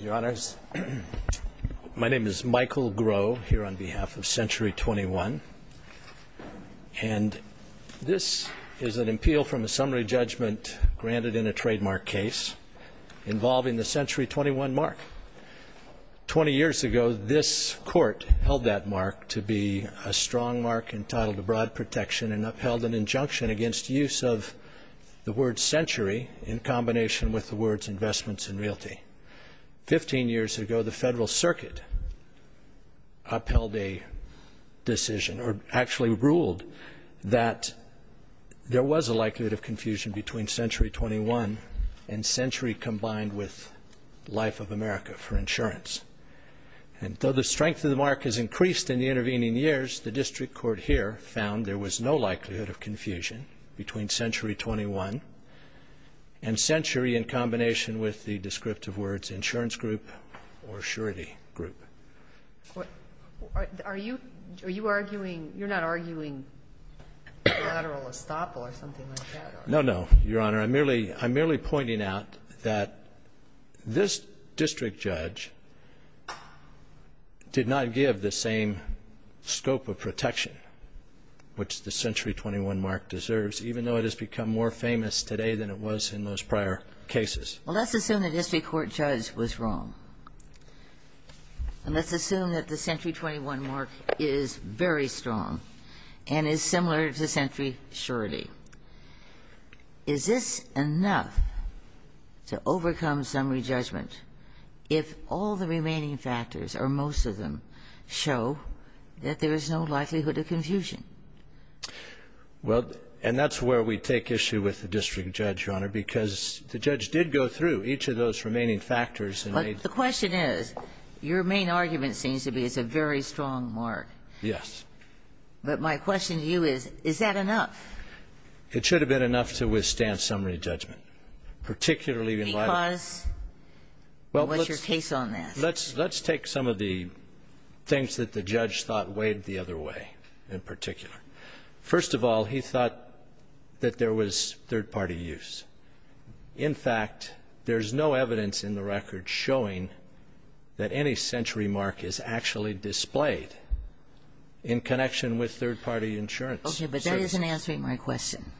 Your Honors, my name is Michael Groh here on behalf of Century 21, and this is an appeal from a summary judgment granted in a trademark case involving the Century 21 mark. Twenty years ago, this Court held that mark to be a strong mark entitled to broad protection and upheld an injunction against use of the word Century in combination with the words Investments in Realty. Fifteen years ago, the Federal Circuit upheld a decision, or actually ruled, that there was a likelihood of confusion between Century 21 and Century combined with Life of America for insurance. And though the strength of the mark has increased in the intervening years, the District Court here found there was no likelihood of confusion between Century 21 and Century in combination with the descriptive words Insurance Group or Surety Group. Are you arguing, you're not arguing collateral estoppel or something like that? No, no, Your Honor. I'm merely pointing out that this District Judge did not give the same scope of protection which the Century 21 mark deserves, even though it has become more famous today than it was in those prior cases. Well, let's assume that the District Court judge was wrong, and let's assume that the Century 21 mark is very strong and is similar to Century Surety. Is this enough to overcome summary judgment if all the remaining factors, or most of them, show that there is no likelihood of confusion? Well, and that's where we take issue with the District Judge, Your Honor, because the judge did go through each of those remaining factors and made But the question is, your main argument seems to be it's a very strong mark. Yes. But my question to you is, is that enough? It should have been enough to withstand summary judgment, particularly in light of Well, let's take some of the things that the judge thought weighed the other way, in particular. First of all, he thought that there was third-party use. In fact, there's no evidence in the record showing that any Century mark is actually displayed in connection with third-party insurance. Okay. But that isn't answering my question.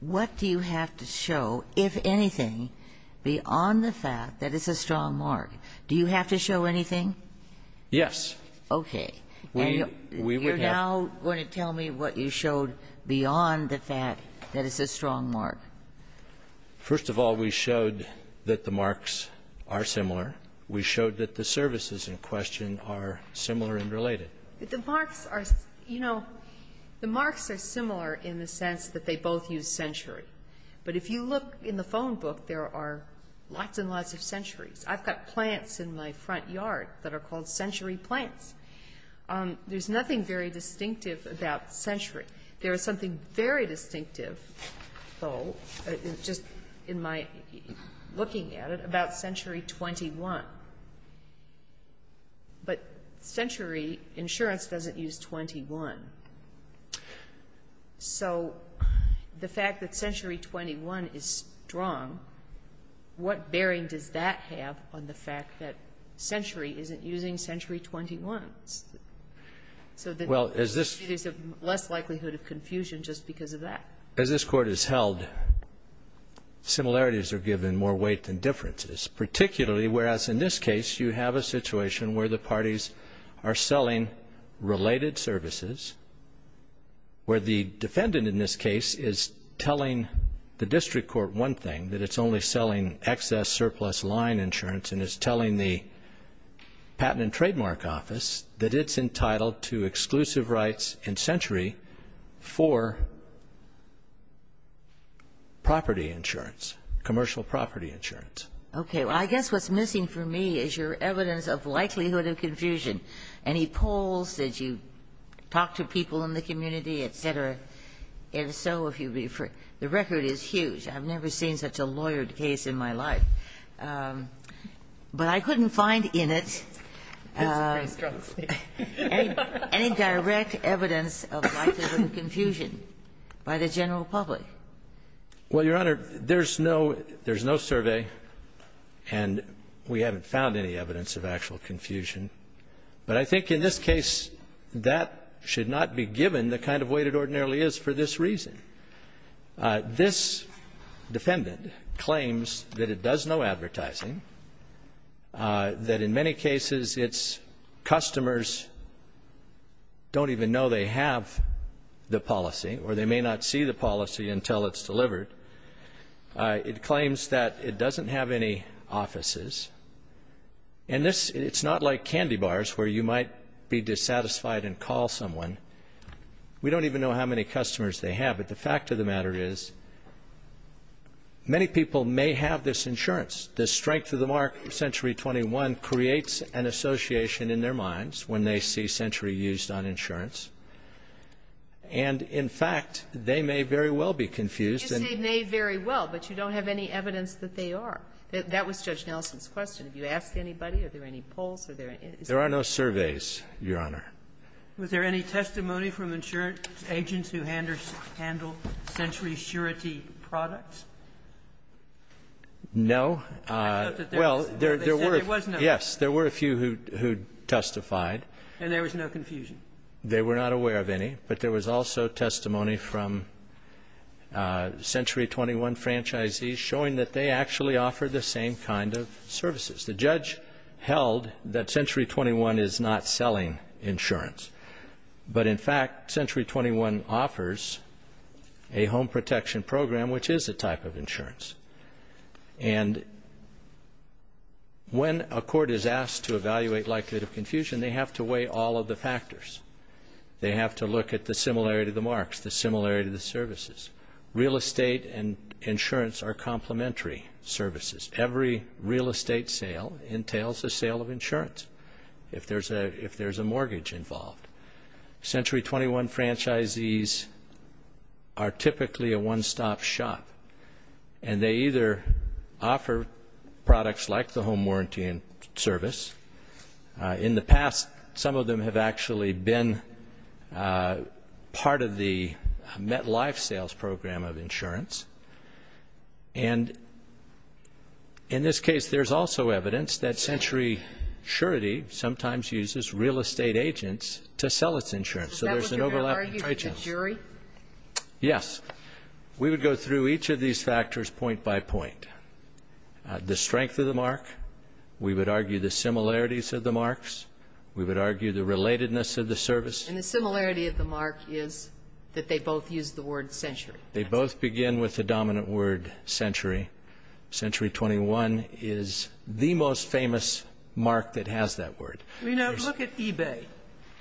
What do you have to show, if anything, beyond the fact that it's a strong mark? Do you have to show anything? Yes. Okay. We would have You're now going to tell me what you showed beyond the fact that it's a strong mark. First of all, we showed that the marks are similar. We showed that the services in question are similar and related. The marks are, you know, the marks are similar in the sense that they both use Century. But if you look in the phone book, there are lots and lots of Centuries. I've got plants in my front yard that are called Century plants. There's nothing very distinctive about Century. There is something very distinctive, though, just in my looking at it, about Century 21. But Century insurance doesn't use 21. So the fact that Century 21 is strong, what bearing does that have on the fact that Century isn't using Century 21? So there's less likelihood of confusion just because of that. As this Court has held, similarities are given more weight than differences, particularly whereas in this case you have a situation where the parties are selling related services, where the defendant in this case is telling the District Court one thing, that it's only selling excess surplus line insurance, and is telling the Patent and Trademark Office that it's entitled to exclusive rights in Century for property insurance, commercial property insurance. Okay. Well, I guess what's missing for me is your evidence of likelihood of confusion. Any polls that you talk to people in the community, et cetera, and so if you refer the record is huge. I've never seen such a lawyered case in my life. But I couldn't find in it any direct evidence of likelihood of confusion by the general public. Well, Your Honor, there's no survey and we haven't found any evidence of actual confusion. But I think in this case that should not be given the kind of weight it ordinarily is for this reason. This defendant claims that it does no advertising, that in many cases its customers don't even know they have the policy or they may not see the policy until it's delivered. It claims that it doesn't have any offices. And this, it's not like candy bars where you might be dissatisfied and call someone. We don't even know how many customers they have. But the fact of the matter is many people may have this insurance. The strength of the mark Century 21 creates an association in their minds when they see Century used on insurance. And in fact, they may very well be confused. Yes, they may very well, but you don't have any evidence that they are. That was Judge Nelson's question. Have you asked anybody? Are there any polls? Are there any? There are no surveys, Your Honor. Was there any testimony from insurance agents who handle Century surety products? No. I thought that there was. Well, there were. They said there was none. Yes. There were a few who testified. And there was no confusion? They were not aware of any, but there was also testimony from Century 21 franchisees showing that they actually offer the same kind of services. The judge held that Century 21 is not selling insurance. But in fact, Century 21 offers a home protection program which is a type of insurance. And when a court is asked to evaluate likelihood of confusion, they have to weigh all of the factors. They have to look at the similarity of the marks, the similarity of the services. Real estate and insurance are complementary services. Every real estate sale entails a sale of insurance if there's a mortgage involved. Century 21 franchisees are typically a one-stop shop, and they either offer products like the home warranty service. In the past, some of them have actually been part of the MetLife sales program of insurance. And in this case, there's also evidence that Century surety sometimes uses real estate agents to sell its insurance. So there's an overlap. Is that what you're going to argue with the jury? Yes. We would go through each of these factors point by point. The strength of the mark. We would argue the similarities of the marks. We would argue the relatedness of the service. And the similarity of the mark is that they both use the word century. They both begin with the dominant word century. Century 21 is the most famous mark that has that word. You know, look at eBay.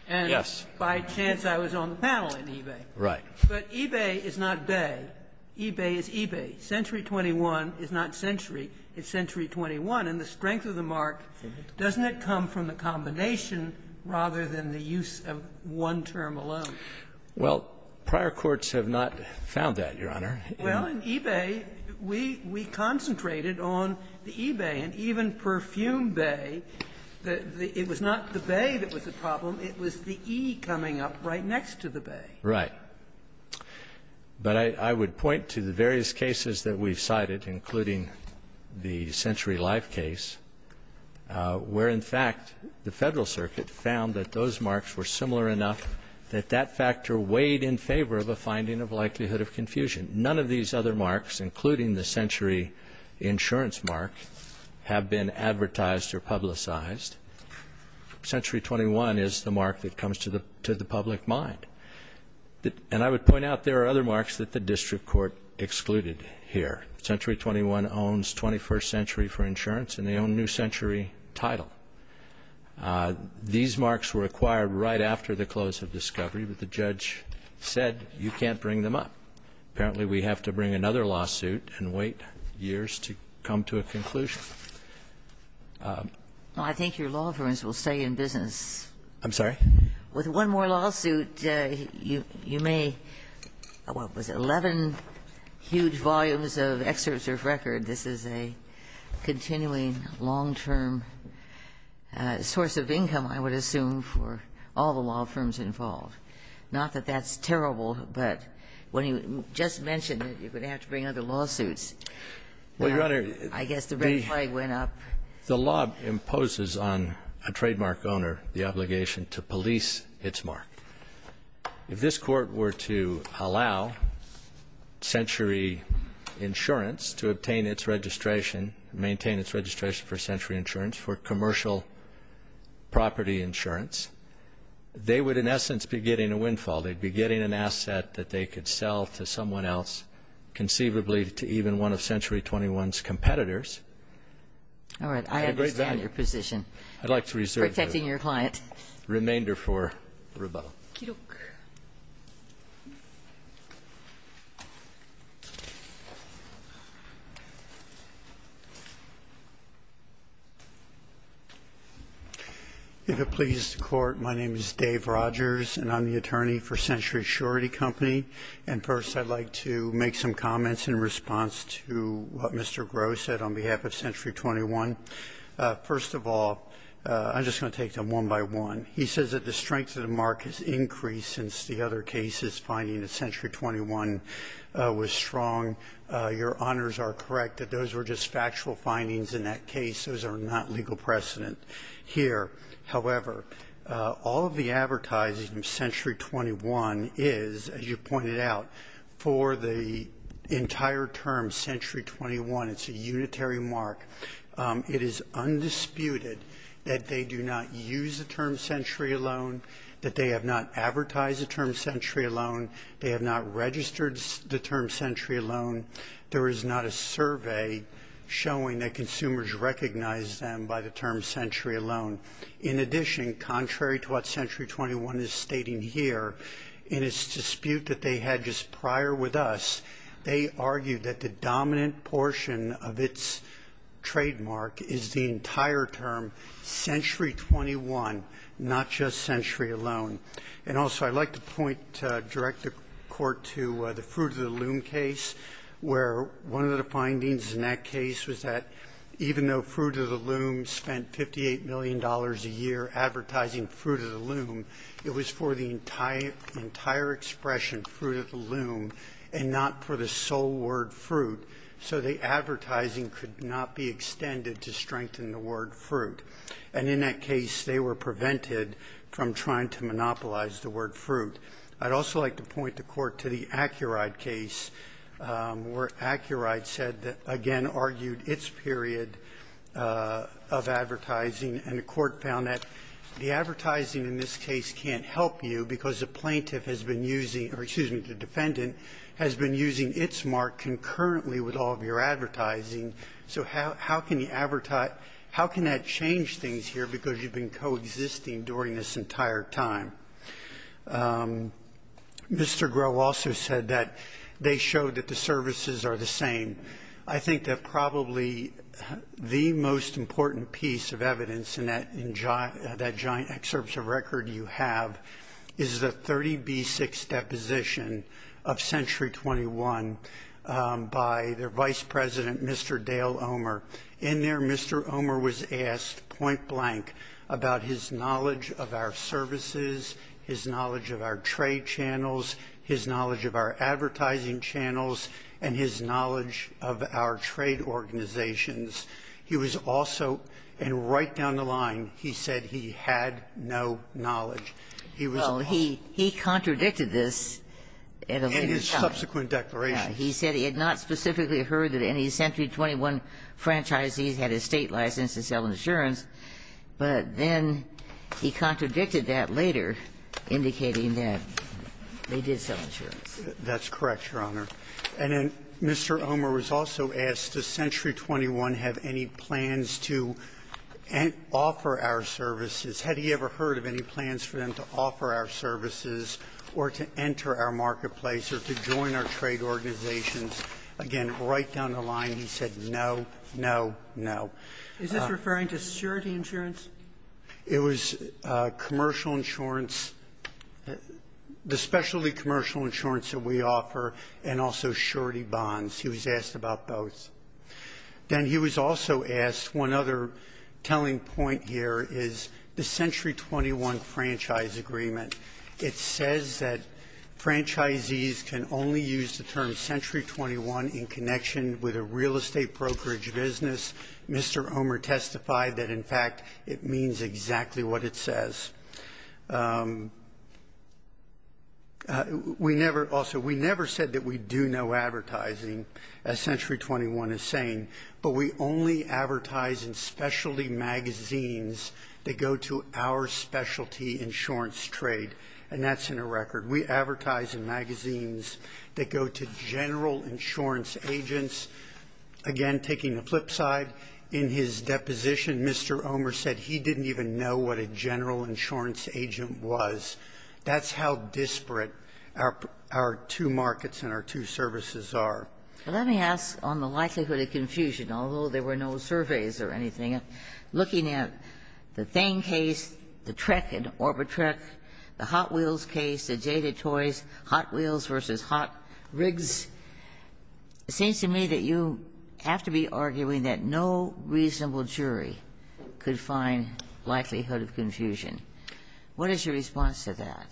Yes. And by chance I was on the panel in eBay. Right. But eBay is not bay. eBay is eBay. Century 21 is not century. It's century 21. And the strength of the mark, doesn't it come from the combination rather than the use of one term alone? Well, prior courts have not found that, Your Honor. Well, in eBay, we concentrated on the eBay. And even perfume bay, it was not the bay that was the problem. It was the E coming up right next to the bay. Right. But I would point to the various cases that we've cited, including the Century Life case, where, in fact, the Federal Circuit found that those marks were similar enough that that factor weighed in favor of a finding of likelihood of confusion. None of these other marks, including the century insurance mark, have been advertised or publicized. Century 21 is the mark that comes to the public mind. And I would point out there are other marks that the district court excluded here. Century 21 owns 21st Century for Insurance, and they own New Century Title. These marks were acquired right after the close of discovery, but the judge said you can't bring them up. Apparently we have to bring another lawsuit and wait years to come to a conclusion. Well, I think your law firms will stay in business. I'm sorry? With one more lawsuit, you may, what was it, 11 huge volumes of excerpts of record. This is a continuing long-term source of income, I would assume, for all the law firms involved. Not that that's terrible, but when you just mentioned that you're going to have to bring other lawsuits, I guess the red flag went up. The law imposes on a trademark owner the obligation to police its mark. If this court were to allow Century Insurance to obtain its registration, maintain its registration for Century Insurance for commercial property insurance, they would in essence be getting a windfall. They'd be getting an asset that they could sell to someone else, conceivably to even one of Century 21's competitors. All right. I understand your position. I'd like to reserve the remainder for rebuttal. If it pleases the Court, my name is Dave Rogers, and I'm the attorney for Century Assurity Company. And first, I'd like to make some comments in response to what Mr. Groh said on behalf of Century 21. First of all, I'm just going to take them one by one. He says that the strength of the mark has increased since the other cases, finding that Century 21 was strong. Your honors are correct that those were just factual findings in that case. Those are not legal precedent here. However, all of the advertising of Century 21 is, as you pointed out, for the entire term Century 21, it's a unitary mark. It is undisputed that they do not use the term Century alone, that they have not advertised the term Century alone, they have not registered the term Century alone. There is not a survey showing that consumers recognize them by the term Century alone. In addition, contrary to what Century 21 is stating here, in its dispute that they had just prior with us, they argued that the dominant portion of its trademark is the entire term Century 21, not just Century alone. And also I'd like to point, direct the Court to the Fruit of the Loom case, where one of the findings in that case was that even though Fruit of the Loom spent $58 million a year advertising Fruit of the Loom, it was for the entire expression Fruit of the Loom and not for the sole word Fruit, so the advertising could not be extended to strengthen the word Fruit. And in that case, they were prevented from trying to monopolize the word Fruit. I'd also like to point the Court to the AccuRide case, where AccuRide said that, again, argued its period of advertising, and the Court found that the advertising in this case can't help you because the plaintiff has been using or, excuse me, the defendant has been using its mark concurrently with all of your advertising. So how can you advertise? How can that change things here because you've been coexisting during this entire time? Mr. Groh also said that they showed that the services are the same. I think that probably the most important piece of evidence in that giant excerpt of record you have is the 30B6 deposition of Century 21 by their Vice President, Mr. Dale Omer. In there, Mr. Omer was asked point-blank about his knowledge of our services, his knowledge of our trade channels, his knowledge of our advertising channels, and his knowledge of our trade organizations. He was also, and right down the line, he said he had no knowledge. He was also he contradicted this at a later time. In his subsequent declarations. He said he had not specifically heard that any Century 21 franchisees had a State license to sell insurance, but then he contradicted that later, indicating that they did sell insurance. That's correct, Your Honor. And then Mr. Omer was also asked, does Century 21 have any plans to offer our services? Had he ever heard of any plans for them to offer our services or to enter our marketplace or to join our trade organizations? Again, right down the line, he said no, no, no. Is this referring to surety insurance? It was commercial insurance, the specialty commercial insurance that we offer, and also surety bonds. He was asked about both. Then he was also asked, one other telling point here is the Century 21 franchise agreement. It says that franchisees can only use the term Century 21 in connection with a real estate brokerage business. Mr. Omer testified that, in fact, it means exactly what it says. We never, also, we never said that we do no advertising, as Century 21 is saying, but we only advertise in specialty magazines that go to our specialty insurance trade, and that's in a record. We advertise in magazines that go to general insurance agents. Again, taking the flip side, in his deposition, Mr. Omer said he didn't even know what a general insurance agent was. That's how disparate our two markets and our two services are. Let me ask on the likelihood of confusion, although there were no surveys or anything, looking at the Thane case, the Trek and Orbitrek, the Hot Wheels case, the Jaded Toys, Hot Wheels v. Hot Rigs, it seems to me that you have to be arguing that no reasonable jury could find likelihood of confusion. What is your response to that?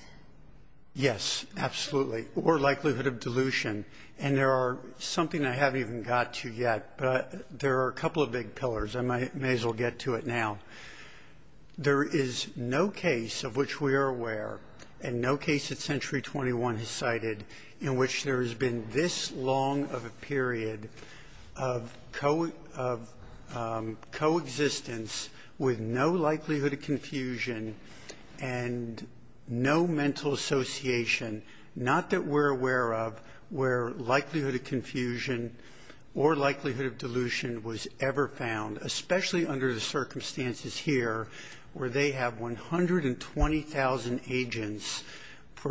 Yes, absolutely. Or likelihood of delusion. And there are something I haven't even got to yet, but there are a couple of big pillars. I may as well get to it now. There is no case of which we are aware and no case that Century 21 has cited in which there has been this long of a period of coexistence with no likelihood of confusion and no mental association, not that we're aware of where likelihood of confusion or likelihood of delusion was ever found, especially under the circumstances here where they have 120,000 agents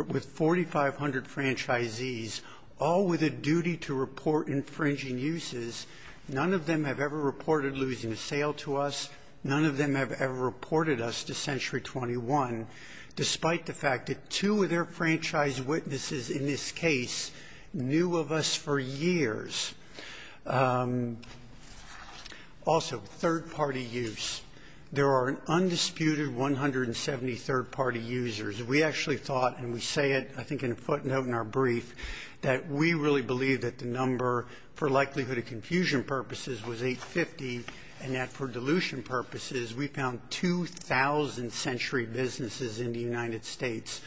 with 4,500 franchisees, all with a duty to report infringing uses. None of them have ever reported losing a sale to us. None of them have ever reported us to Century 21, despite the fact that two of their franchise witnesses in this case knew of us for years. Also, third-party use. There are an undisputed 170 third-party users. We actually thought, and we say it I think in a footnote in our brief, that we really believe that the number for likelihood of confusion purposes was 850 and that for delusion purposes we found 2,000 Century businesses in the United States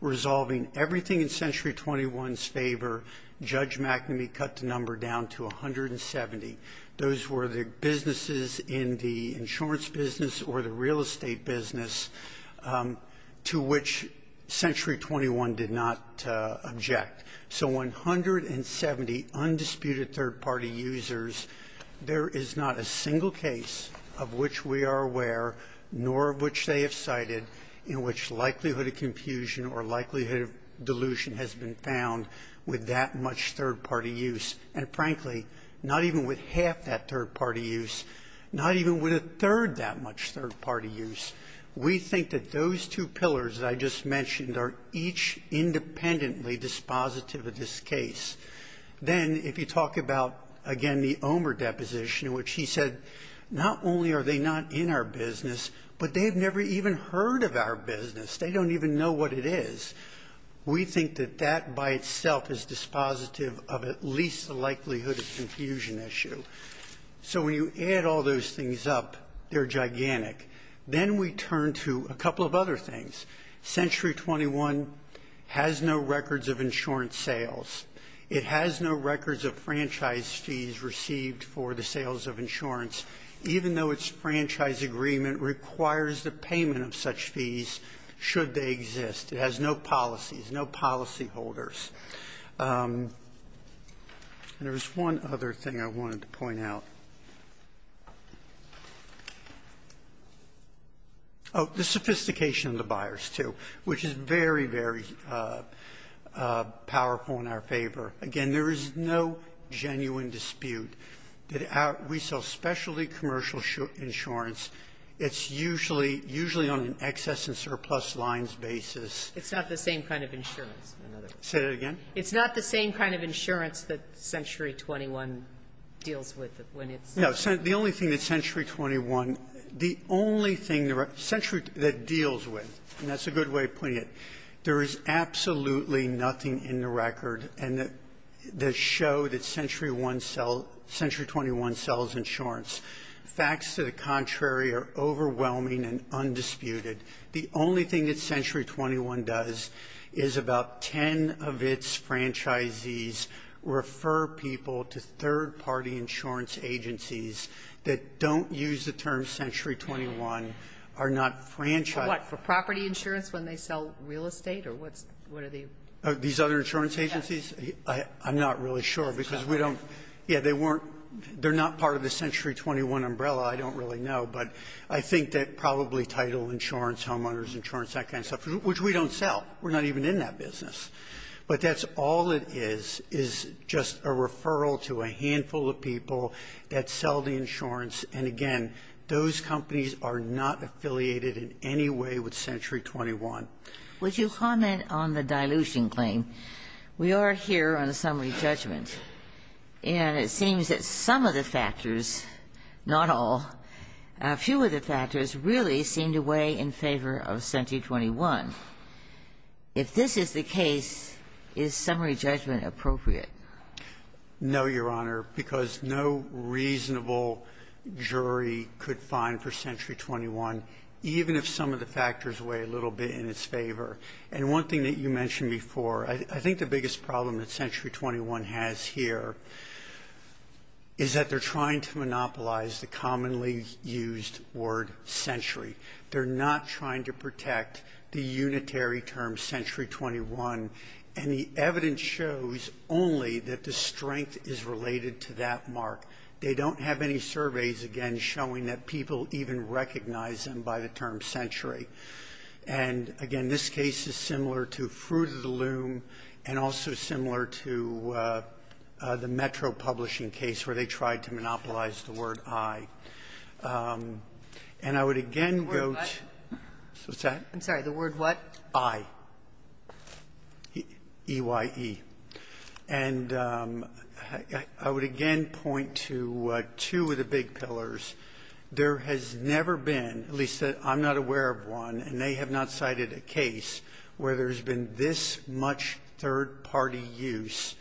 resolving everything in Century 21's favor, Judge McNamee cut the number down to 170. Those were the businesses in the insurance business or the real estate business to which Century 21 did not object. So 170 undisputed third-party users. There is not a single case of which we are aware, nor of which they have cited, in which likelihood of confusion or likelihood of delusion has been found with that much third-party use. And frankly, not even with half that third-party use, not even with a third that much third-party use. We think that those two pillars that I just mentioned are each independently dispositive of this case. Then, if you talk about, again, the Omer deposition in which he said, not only are they not in our business, but they have never even heard of our business. They don't even know what it is. We think that that by itself is dispositive of at least the likelihood of confusion issue. So when you add all those things up, they're gigantic. Then we turn to a couple of other things. Century 21 has no records of insurance sales. It has no records of franchise fees received for the sales of insurance, even though its franchise agreement requires the payment of such fees should they exist. It has no policies, no policyholders. And there was one other thing I wanted to point out. Oh, the sophistication of the buyers, too, which is very, very powerful in our favor. Again, there is no genuine dispute that we sell specialty commercial insurance. It's usually on an excess and surplus lines basis. It's not the same kind of insurance. Say that again. It's not the same kind of insurance that Century 21 deals with when it's the only thing that Century 21. The only thing that deals with, and that's a good way of putting it, there is absolutely nothing in the record and the show that Century 21 sells insurance. Facts to the contrary are overwhelming and undisputed. The only thing that Century 21 does is about 10 of its franchisees refer people to third Century 21 are not franchised. What, for property insurance when they sell real estate or what are they? These other insurance agencies? I'm not really sure because we don't, yeah, they weren't, they're not part of the Century 21 umbrella. I don't really know. But I think that probably title insurance, homeowners insurance, that kind of stuff, which we don't sell. We're not even in that business. But that's all it is, is just a referral to a handful of people that sell the insurance. And again, those companies are not affiliated in any way with Century 21. Would you comment on the dilution claim? We are here on a summary judgment, and it seems that some of the factors, not all, a few of the factors really seem to weigh in favor of Century 21. If this is the case, is summary judgment appropriate? No, Your Honor, because no reasonable jury could find for Century 21, even if some of the factors weigh a little bit in its favor. And one thing that you mentioned before, I think the biggest problem that Century 21 has here is that they're trying to monopolize the commonly used word century. They're not trying to protect the unitary term Century 21. And the evidence shows only that the strength is related to that mark. They don't have any surveys, again, showing that people even recognize them by the term century. And again, this case is similar to Fruit of the Loom and also similar to the Metro publishing case, where they tried to monopolize the word I. And I would again go to the word what? I, E-Y-E. And I would again point to two of the big pillars. There has never been, at least I'm not aware of one, and they have not cited a case where there's been this much third party use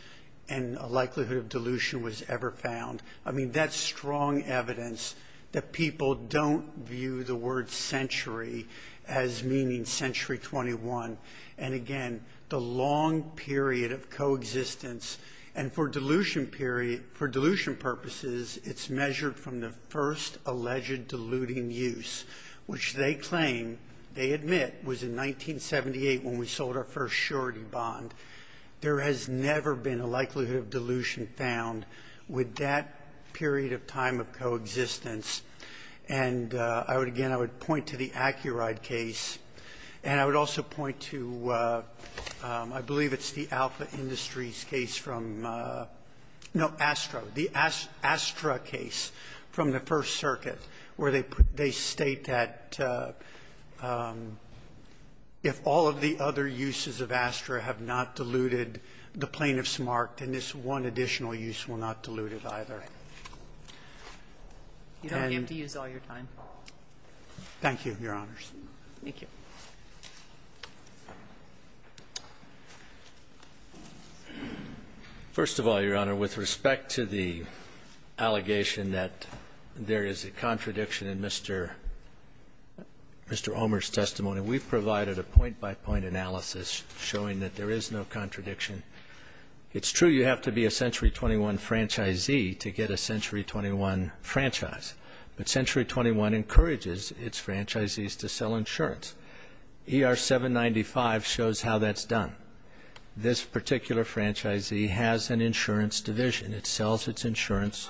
and a likelihood of dilution was ever found. I mean, that's strong evidence that people don't view the word century as meaning Century 21. And again, the long period of coexistence. And for dilution purposes, it's measured from the first alleged diluting use, which they claim, they admit, was in 1978 when we sold our first surety bond. There has never been a likelihood of dilution found with that period of time of coexistence. And I would again, I would point to the AccuRide case. And I would also point to, I believe it's the Alpha Industries case from, no, ASTRA. The ASTRA case from the First Circuit, where they state that if all of the other uses of ASTRA have not diluted, the plaintiff's marked, and this one additional use will not dilute it either. And I would point to the AccuRide. And you don't have to use all your time. Thank you, Your Honors. Thank you. First of all, Your Honor, with respect to the allegation that there is a contradiction in Mr. Omer's testimony, we've provided a point-by-point analysis showing that there is no contradiction. It's true you have to be a Century 21 franchisee to get a Century 21 franchise. But Century 21 encourages its franchisees to sell insurance. ER 795 shows how that's done. This particular franchisee has an insurance division. It sells its insurance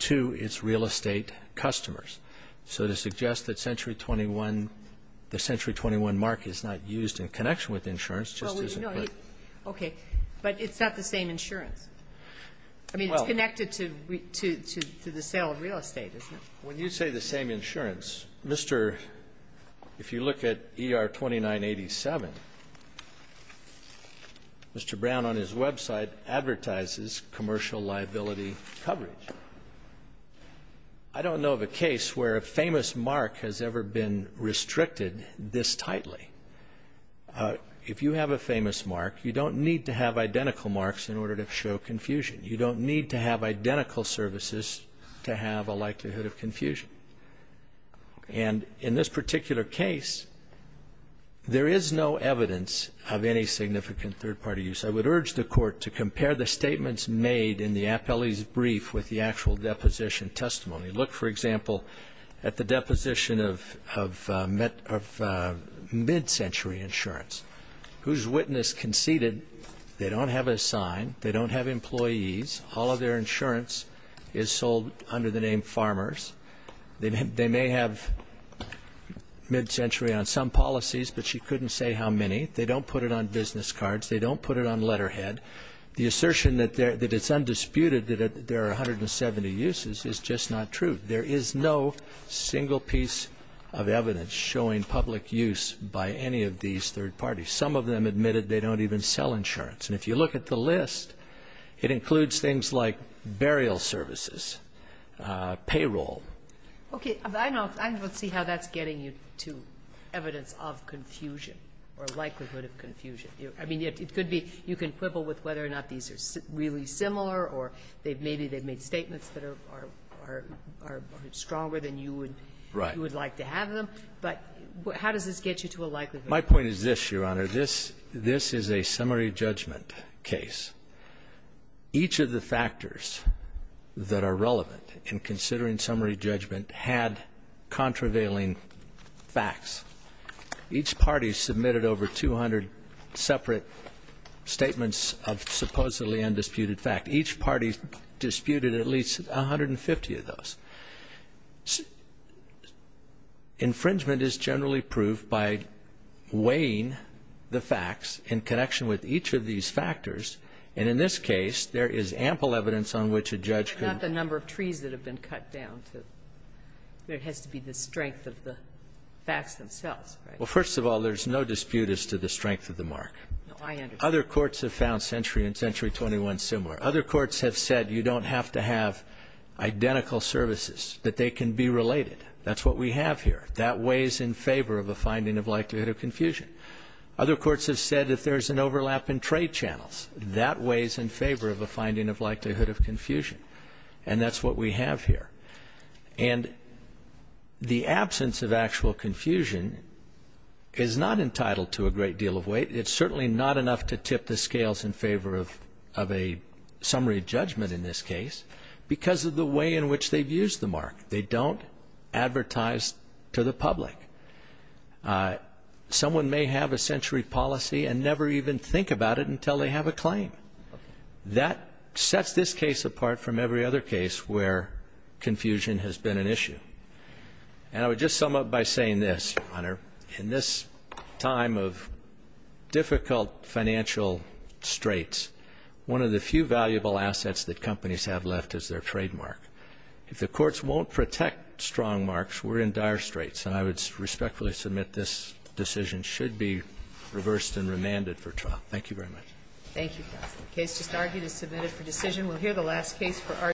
to its real estate customers. So to suggest that Century 21, the Century 21 mark is not used in connection with insurance just isn't correct. Okay. But it's not the same insurance. I mean, it's connected to the sale of real estate, isn't it? When you say the same insurance, if you look at ER 2987, Mr. Brown on his website advertises commercial liability coverage. I don't know of a case where a famous mark has ever been restricted this tightly. If you have a famous mark, you don't need to have identical marks in order to show confusion. You don't need to have identical services to have a likelihood of confusion. And in this particular case, there is no evidence of any significant third-party use. I would urge the Court to compare the statements made in the appellee's brief with the actual deposition testimony. Look, for example, at the deposition of mid-century insurance, whose witness conceded they don't have a sign, they don't have employees, all of their insurance is sold under the name Farmers. They may have mid-century on some policies, but she couldn't say how many. They don't put it on business cards. They don't put it on letterhead. The assertion that it's undisputed that there are 170 uses is just not true. There is no single piece of evidence showing public use by any of these third parties. Some of them admitted they don't even sell insurance. And if you look at the list, it includes things like burial services, payroll. Okay, I don't see how that's getting you to evidence of confusion or likelihood of confusion. I mean, it could be you can quibble with whether or not these are really similar, or maybe they've made statements that are stronger than you would like to have them. But how does this get you to a likelihood? My point is this, Your Honor. This is a summary judgment case. Each of the factors that are relevant in considering summary judgment had contravailing facts. Each party submitted over 200 separate statements of supposedly undisputed fact. Each party disputed at least 150 of those. Infringement is generally proved by weighing the facts in connection with each of these factors. And in this case, there is ample evidence on which a judge could. But not the number of trees that have been cut down. There has to be the strength of the facts themselves, right? Well, first of all, there's no dispute as to the strength of the mark. No, I understand. Other courts have found century and century 21 similar. Other courts have said you don't have to have identical services, that they can be related. That's what we have here. That weighs in favor of a finding of likelihood of confusion. Other courts have said if there's an overlap in trade channels, that weighs in favor of a finding of likelihood of confusion. And that's what we have here. And the absence of actual confusion is not entitled to a great deal of weight. It's certainly not enough to tip the scales in favor of a summary judgment in this case. Because of the way in which they've used the mark. They don't advertise to the public. Someone may have a century policy and never even think about it until they have a claim. That sets this case apart from every other case where confusion has been an issue. And I would just sum up by saying this, your honor. In this time of difficult financial straits, one of the few valuable assets that companies have left is their trademark. If the courts won't protect strong marks, we're in dire straits. And I would respectfully submit this decision should be reversed and remanded for trial. Thank you very much. Thank you, counsel. Case just argued is submitted for decision. We'll hear the last case for